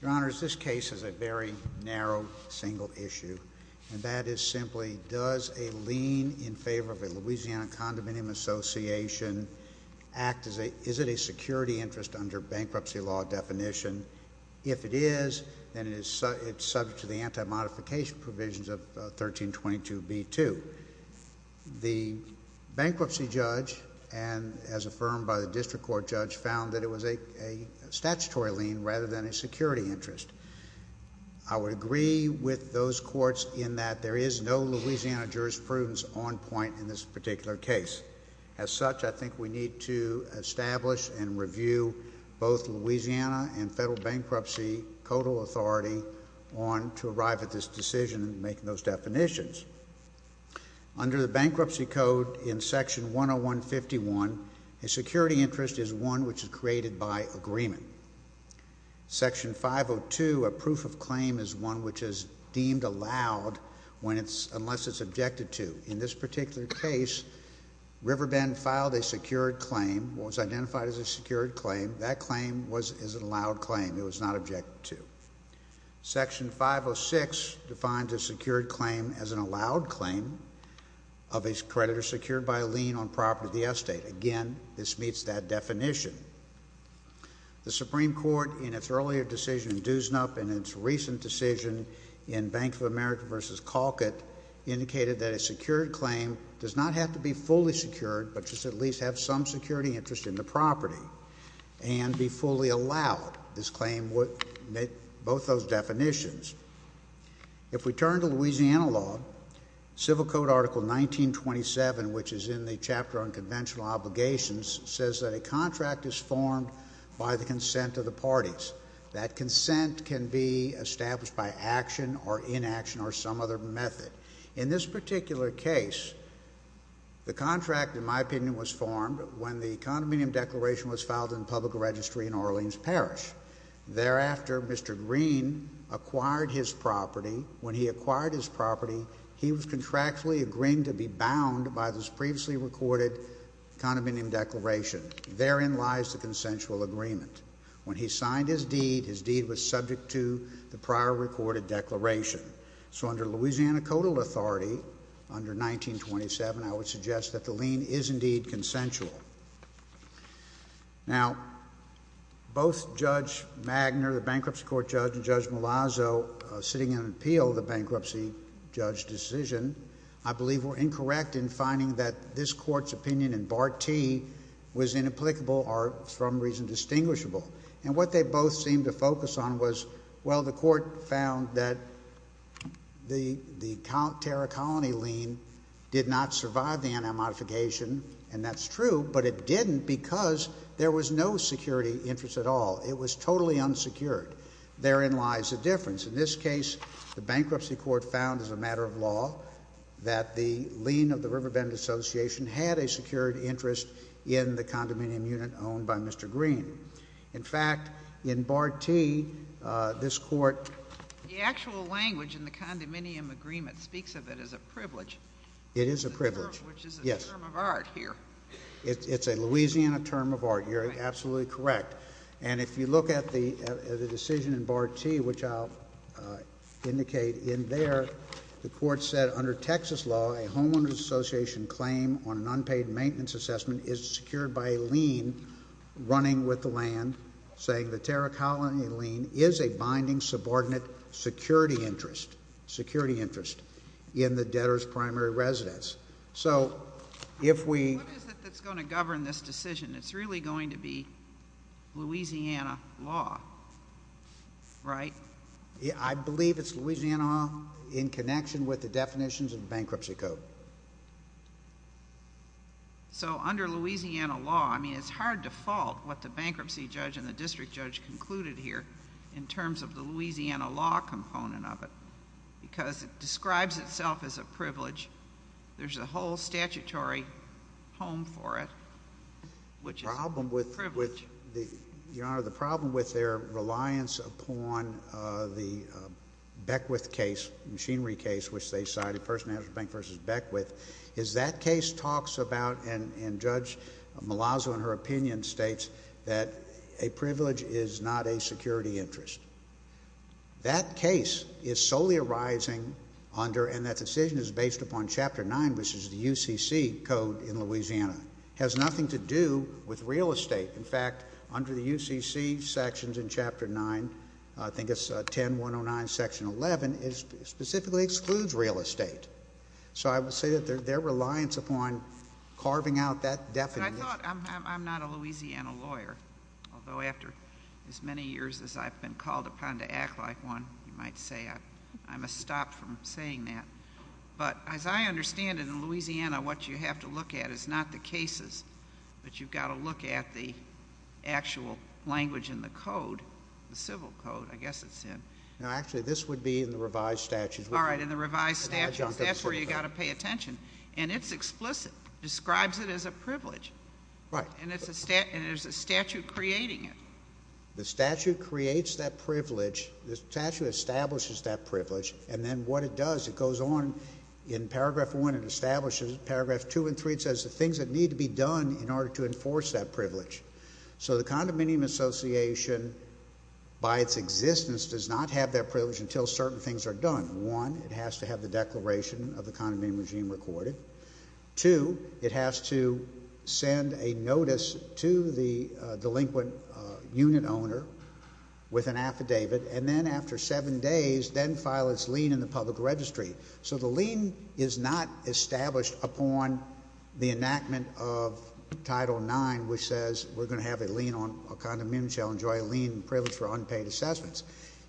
Your Honor, this case is a very narrow, single issue, and that is simply, does a lien in favor of a Louisiana Condominium Association act as a, is it a security interest under bankruptcy law definition? If it is, then it is subject to the anti-modification provisions of 1322b-2. The bankruptcy judge, and as affirmed by the district court judge, found that it was a statutory lien rather than a security interest. I would agree with those courts in that there is no Louisiana jurisprudence on point in this particular case. As such, I think we need to establish and review both Louisiana and Federal Bankruptcy Codal Authority on, to arrive at this decision and make those definitions. Under the Bankruptcy Code in Section 101-51, a security interest is one which is created by agreement. Section 502, a proof of claim is one which is deemed allowed when it's, unless it's objected to. In this particular case, Riverbend filed a secured claim, was identified as a secured claim. That claim was, is an allowed claim. It was not objected to. Section 506 defines a secured claim as an allowed claim of a creditor secured by a lien on property of the estate. Again, this meets that definition. The Supreme Court, in its earlier decision in Doosnup and its recent decision in Bank of America v. Colquitt, indicated that a secured claim does not have to be fully secured, but just at least have some security interest in the property, and be fully allowed. This claim would meet both those definitions. If we turn to Louisiana law, Civil Code Article 1927, which is in the chapter on conventional obligations, says that a contract is formed by the consent of the parties. That consent can be established by action or inaction or some other method. In this particular case, the contract, in my opinion, was formed when the condominium declaration was filed in public registry in Orleans Parish. Thereafter, Mr. Green acquired his property. When he acquired his property, he was contractually agreeing to be bound by this previously recorded condominium declaration. Therein lies the consensual agreement. When he signed his deed, his deed was subject to the prior recorded declaration. So under Louisiana Codal Authority, under 1927, I would suggest that the lien is indeed consensual. Now, both Judge Magner, the bankruptcy court judge, and Judge Malazzo, sitting in appeal of the bankruptcy judge decision, I believe were incorrect in finding that this court's opinion in Part T was inapplicable or, for some reason, distinguishable. And what they both seemed to focus on was, well, the court found that the Terra Colony lien did not survive the anti-modification, and that's true, but it didn't because there was no security interest at all. It was totally unsecured. Therein lies the difference. In this case, the bankruptcy court found as a matter of law that the lien of the Riverbend Association had a secured interest in the condominium unit owned by Mr. Green. In fact, in Part T, this court— The actual language in the condominium agreement speaks of it as a privilege. It is a privilege. Which is a term of art here. It's a Louisiana term of art. You're absolutely correct. And if you look at the decision in Part T, which I'll indicate in there, the court said, under Texas law, a homeowners association claim on an unpaid maintenance assessment is secured by a lien running with the land, saying the Terra Colony lien is a binding subordinate security interest in the debtor's primary residence. So if we— What is it that's going to govern this decision? It's really going to be Louisiana law, right? I believe it's Louisiana in connection with the definitions of the bankruptcy code. So under Louisiana law, I mean, it's hard to fault what the bankruptcy judge and the district judge concluded here in terms of the Louisiana law component of it, because it describes itself as a privilege. There's a whole statutory home for it, which is a privilege. Your Honor, the problem with their reliance upon the Beckwith case, machinery case, which they cited, First National Bank v. Beckwith, is that case talks about, and Judge Malazzo in her opinion states, that a privilege is not a security interest. That case is solely arising under, and that decision is based upon Chapter 9, which is the UCC code in Louisiana. It has nothing to do with real estate. In fact, under the UCC sections in Chapter 9, I think it's 10109 Section 11, it specifically excludes real estate. So I would say that their reliance upon carving out that definition— But I thought—I'm not a Louisiana lawyer, although after as many years as I've been called upon to act like one, you might say I'm a stop from saying that. But as I understand it, in Louisiana, what you have to look at is not the cases, but you've got to look at the actual language in the code, the civil code, I guess it's in. No, actually, this would be in the revised statutes. All right, in the revised statutes, that's where you've got to pay attention. And it's explicit. It describes it as a privilege. Right. And there's a statute creating it. The statute creates that privilege. The statute establishes that privilege. And then what it does, it goes on. In Paragraph 1, it establishes it. Paragraph 2 and 3, it says the things that need to be done in order to enforce that privilege. So the condominium association, by its existence, does not have that privilege until certain things are done. One, it has to have the declaration of the condominium regime recorded. Two, it has to send a notice to the delinquent unit owner with an affidavit, and then after seven days, then file its lien in the public registry. So the lien is not established upon the enactment of Title IX, which says we're going to have a lien on a condominium, shall enjoy a lien privilege for unpaid assessments.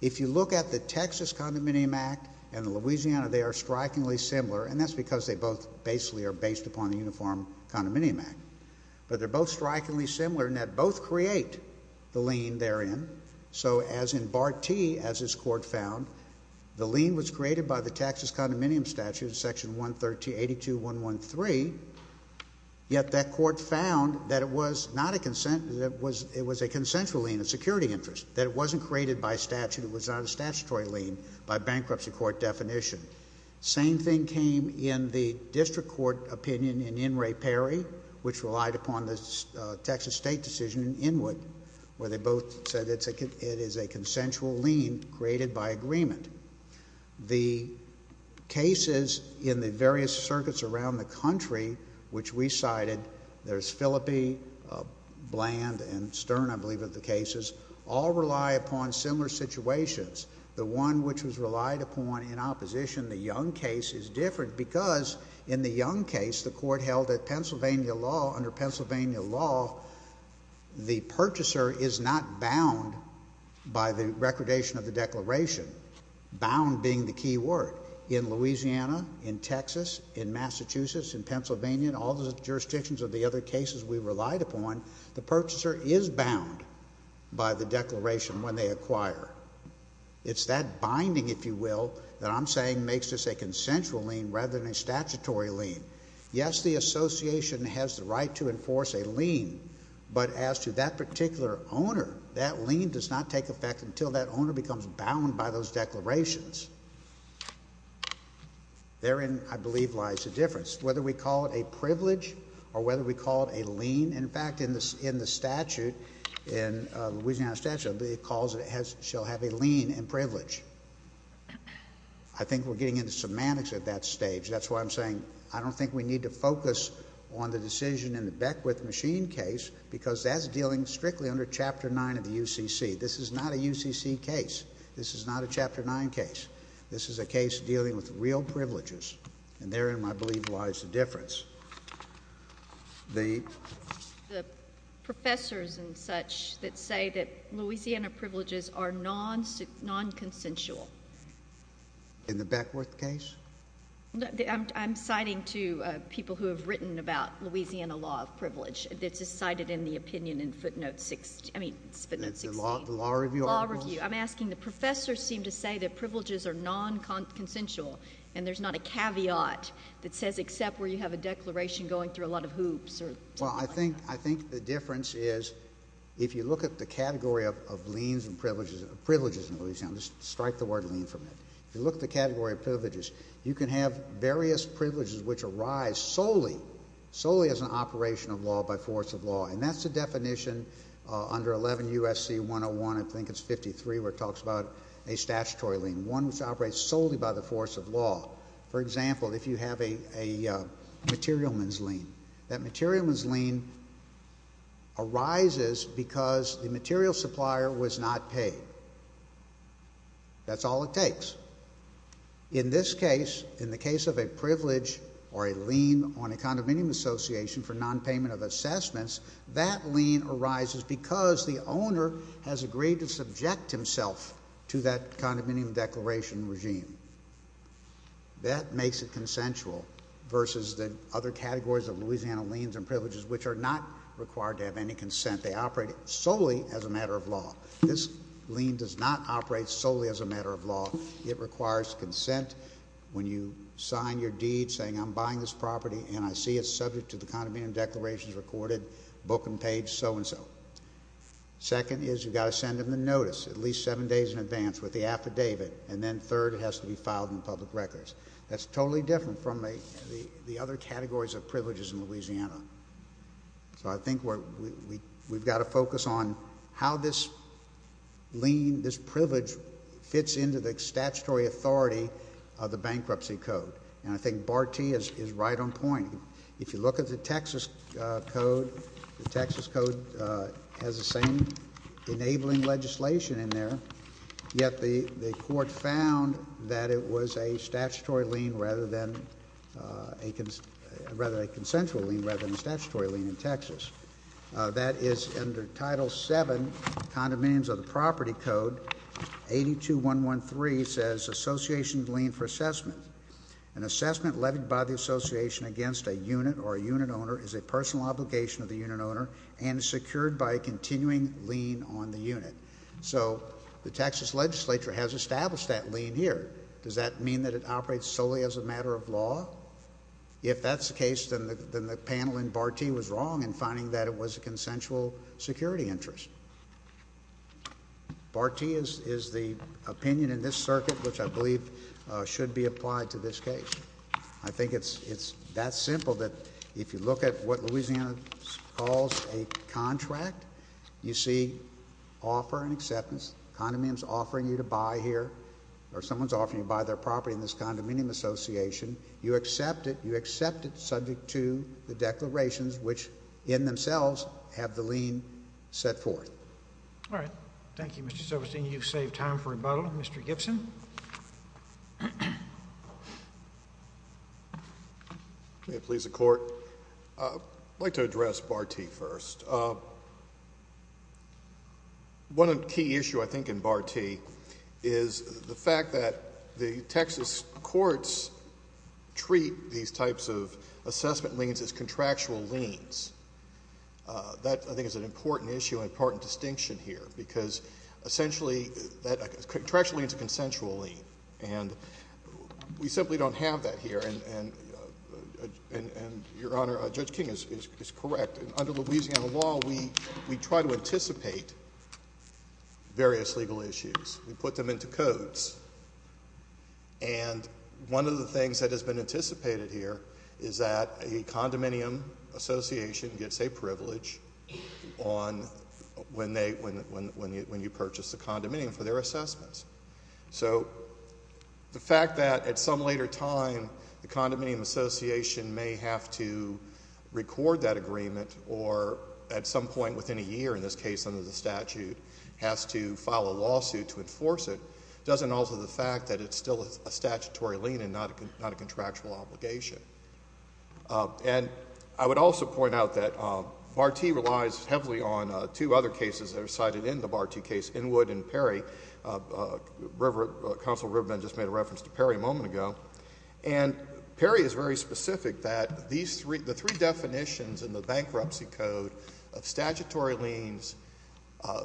If you look at the Texas Condominium Act and the Louisiana, they are strikingly similar, and that's because they both basically are based upon the Uniform Condominium Act. But they're both strikingly similar in that both create the lien therein. So as in Part T, as this court found, the lien was created by the Texas Condominium Statute, Section 182.113, yet that court found that it was a consensual lien, a security interest, that it wasn't created by statute, it was not a statutory lien by bankruptcy court definition. Same thing came in the district court opinion in Inouye Perry, which relied upon the Texas State decision in Inouye, where they both said it is a consensual lien created by agreement. The cases in the various circuits around the country, which we cited, there's Phillippe, Bland, and Stern, I believe, are the cases, all rely upon similar situations. The one which was relied upon in opposition, the Young case, is different because in the Young case, the court held that Pennsylvania law, under Pennsylvania law, the purchaser is not bound by the recordation of the declaration. Bound being the key word. In Louisiana, in Texas, in Massachusetts, in Pennsylvania, and all the jurisdictions of the other cases we relied upon, the purchaser is bound by the declaration when they acquire. It's that binding, if you will, that I'm saying makes this a consensual lien rather than a statutory lien. Yes, the association has the right to enforce a lien, but as to that particular owner, that lien does not take effect until that owner becomes bound by those declarations. Therein, I believe, lies the difference. Whether we call it a privilege or whether we call it a lien, in fact, in the statute, in Louisiana statute, it calls it shall have a lien in privilege. I think we're getting into semantics at that stage. That's why I'm saying I don't think we need to focus on the decision in the Beckwith machine case because that's dealing strictly under Chapter 9 of the UCC. This is not a UCC case. This is not a Chapter 9 case. This is a case dealing with real privileges, and therein, I believe, lies the difference. The professors and such that say that Louisiana privileges are non-consensual. In the Beckwith case? I'm citing to people who have written about Louisiana law of privilege. It's cited in the opinion in footnote 16. I mean, it's footnote 16. The law review articles? Law review. I'm asking the professors seem to say that privileges are non-consensual, and there's not a caveat that says except where you have a declaration going through a lot of hoops. Well, I think the difference is if you look at the category of liens and privileges in Louisiana, just strike the word lien from it, if you look at the category of privileges, you can have various privileges which arise solely as an operation of law by force of law, and that's the definition under 11 U.S.C. 101, I think it's 53, where it talks about a statutory lien, one which operates solely by the force of law. For example, if you have a materialman's lien, that materialman's lien arises because the material supplier was not paid. That's all it takes. In this case, in the case of a privilege or a lien on a condominium association for nonpayment of assessments, that lien arises because the owner has agreed to subject himself to that condominium declaration regime. That makes it consensual versus the other categories of Louisiana liens and privileges, which are not required to have any consent. They operate solely as a matter of law. This lien does not operate solely as a matter of law. It requires consent. When you sign your deed saying I'm buying this property and I see it's subject to the condominium declarations recorded, book and page, so and so. Second is you've got to send them the notice at least seven days in advance with the affidavit, and then third, it has to be filed in the public records. That's totally different from the other categories of privileges in Louisiana. So I think we've got to focus on how this lien, this privilege, fits into the statutory authority of the bankruptcy code, and I think Bartee is right on point. If you look at the Texas Code, the Texas Code has the same enabling legislation in there, yet the court found that it was a statutory lien rather than a consensual lien rather than a statutory lien in Texas. That is under Title VII, Condominiums of the Property Code, 82-113 says association lien for assessment. An assessment levied by the association against a unit or a unit owner is a personal obligation of the unit owner and is secured by a continuing lien on the unit. So the Texas legislature has established that lien here. Does that mean that it operates solely as a matter of law? If that's the case, then the panel in Bartee was wrong in finding that it was a consensual security interest. Bartee is the opinion in this circuit which I believe should be applied to this case. I think it's that simple that if you look at what Louisiana calls a contract, you see offer and acceptance, condominiums offering you to buy here, or someone's offering you to buy their property in this condominium association. You accept it. You accept it subject to the declarations which in themselves have the lien set forth. All right. Thank you, Mr. Silverstein. Can you save time for rebuttal, Mr. Gibson? May it please the Court? I'd like to address Bartee first. One key issue I think in Bartee is the fact that the Texas courts treat these types of assessment liens as contractual liens. That, I think, is an important issue, an important distinction here because essentially that contractual lien is a consensual lien, and we simply don't have that here. And, Your Honor, Judge King is correct. Under Louisiana law, we try to anticipate various legal issues. We put them into codes. And one of the things that has been anticipated here is that a condominium association gets a privilege when you purchase a condominium for their assessments. So the fact that at some later time the condominium association may have to record that agreement or at some point within a year, in this case under the statute, has to file a lawsuit to enforce it doesn't alter the fact that it's still a statutory lien and not a contractual obligation. And I would also point out that Bartee relies heavily on two other cases that are cited in the Bartee case, Inwood and Perry. Counsel Rivendell just made a reference to Perry a moment ago. And Perry is very specific that the three definitions in the bankruptcy code of statutory liens,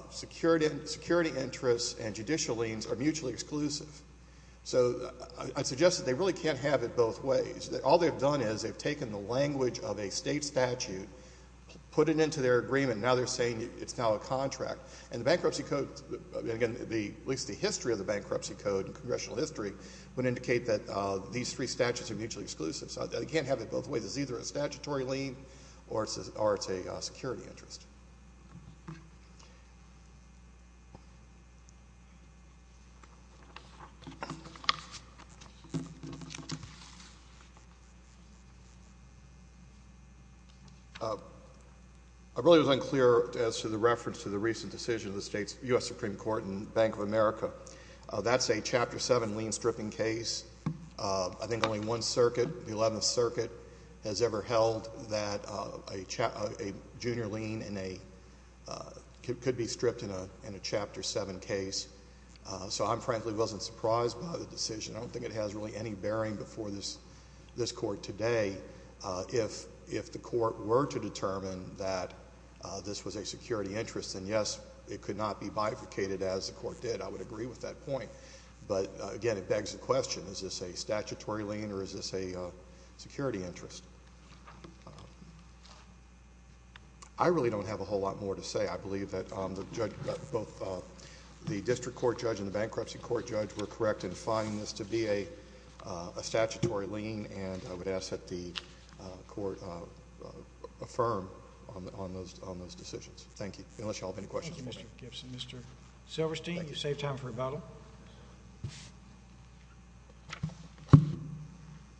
security interests, and judicial liens are mutually exclusive. So I suggest that they really can't have it both ways. All they've done is they've taken the language of a state statute, put it into their agreement, and now they're saying it's now a contract. And the bankruptcy code, at least the history of the bankruptcy code and congressional history, would indicate that these three statutes are mutually exclusive. So they can't have it both ways. It's either a statutory lien or it's a security interest. I really was unclear as to the reference to the recent decision of the U.S. Supreme Court in Bank of America. That's a Chapter 7 lien-stripping case. I think only one circuit, the 11th Circuit, has ever held that a junior lien could be stripped in a Chapter 7 case. So I frankly wasn't surprised by the decision. I don't think it has really any bearing before this court today. If the court were to determine that this was a security interest, then yes, it could not be bifurcated as the court did. I would agree with that point. But, again, it begs the question, is this a statutory lien or is this a security interest? I really don't have a whole lot more to say. I believe that both the district court judge and the bankruptcy court judge were correct in finding this to be a statutory lien, and I would ask that the court affirm on those decisions. Thank you. Unless you all have any questions. Thank you, Mr. Gibson. Mr. Silverstein, you saved time for rebuttal.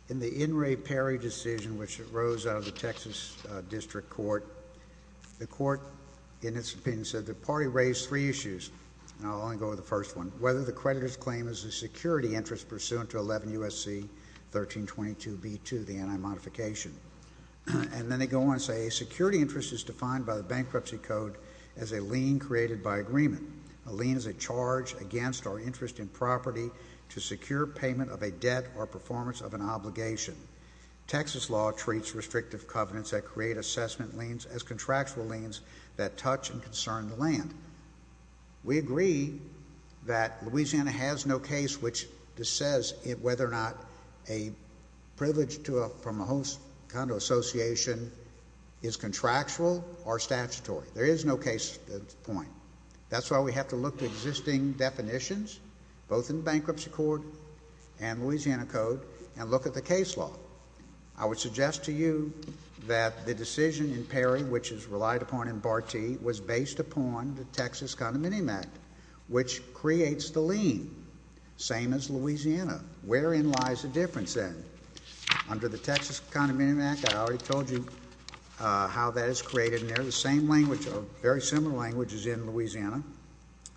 In the In re Pari decision, which arose out of the Texas District Court, the court, in its opinion, said the party raised three issues, and I'll only go over the first one, whether the creditor's claim is a security interest pursuant to 11 U.S.C. 1322b2, the anti-modification. And then they go on and say a security interest is defined by the bankruptcy code as a lien created by agreement. A lien is a charge against or interest in property to secure payment of a debt or performance of an obligation. Texas law treats restrictive covenants that create assessment liens as contractual liens that touch and concern the land. We agree that Louisiana has no case which says whether or not a privilege from a host kind of association is contractual or statutory. There is no case at this point. That's why we have to look at existing definitions, both in the bankruptcy court and Louisiana code, and look at the case law. I would suggest to you that the decision in Pari, which is relied upon in Bartee, was based upon the Texas Condominium Act, which creates the lien, same as Louisiana. Wherein lies the difference, then? Under the Texas Condominium Act, I already told you how that is created in there. The same language, or very similar language, is in Louisiana. It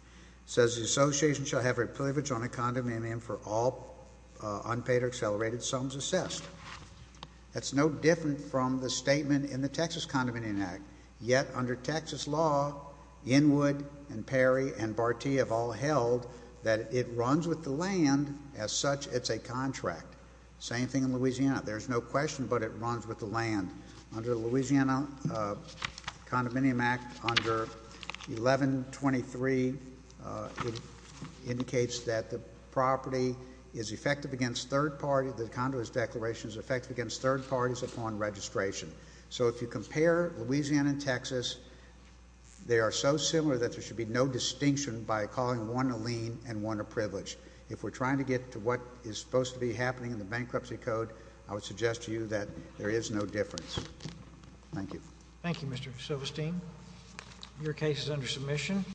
says the association shall have a privilege on a condominium for all unpaid or accelerated sums assessed. That's no different from the statement in the Texas Condominium Act. Yet, under Texas law, Inwood and Pari and Bartee have all held that it runs with the land, as such it's a contract. Same thing in Louisiana. There's no question, but it runs with the land. Under the Louisiana Condominium Act, under 1123, it indicates that the property is effective against third parties, the condominium declaration is effective against third parties upon registration. So if you compare Louisiana and Texas, they are so similar that there should be no distinction by calling one a lien and one a privilege. If we're trying to get to what is supposed to be happening in the bankruptcy code, I would suggest to you that there is no difference. Thank you. Thank you, Mr. Silverstein. Your case is under submission.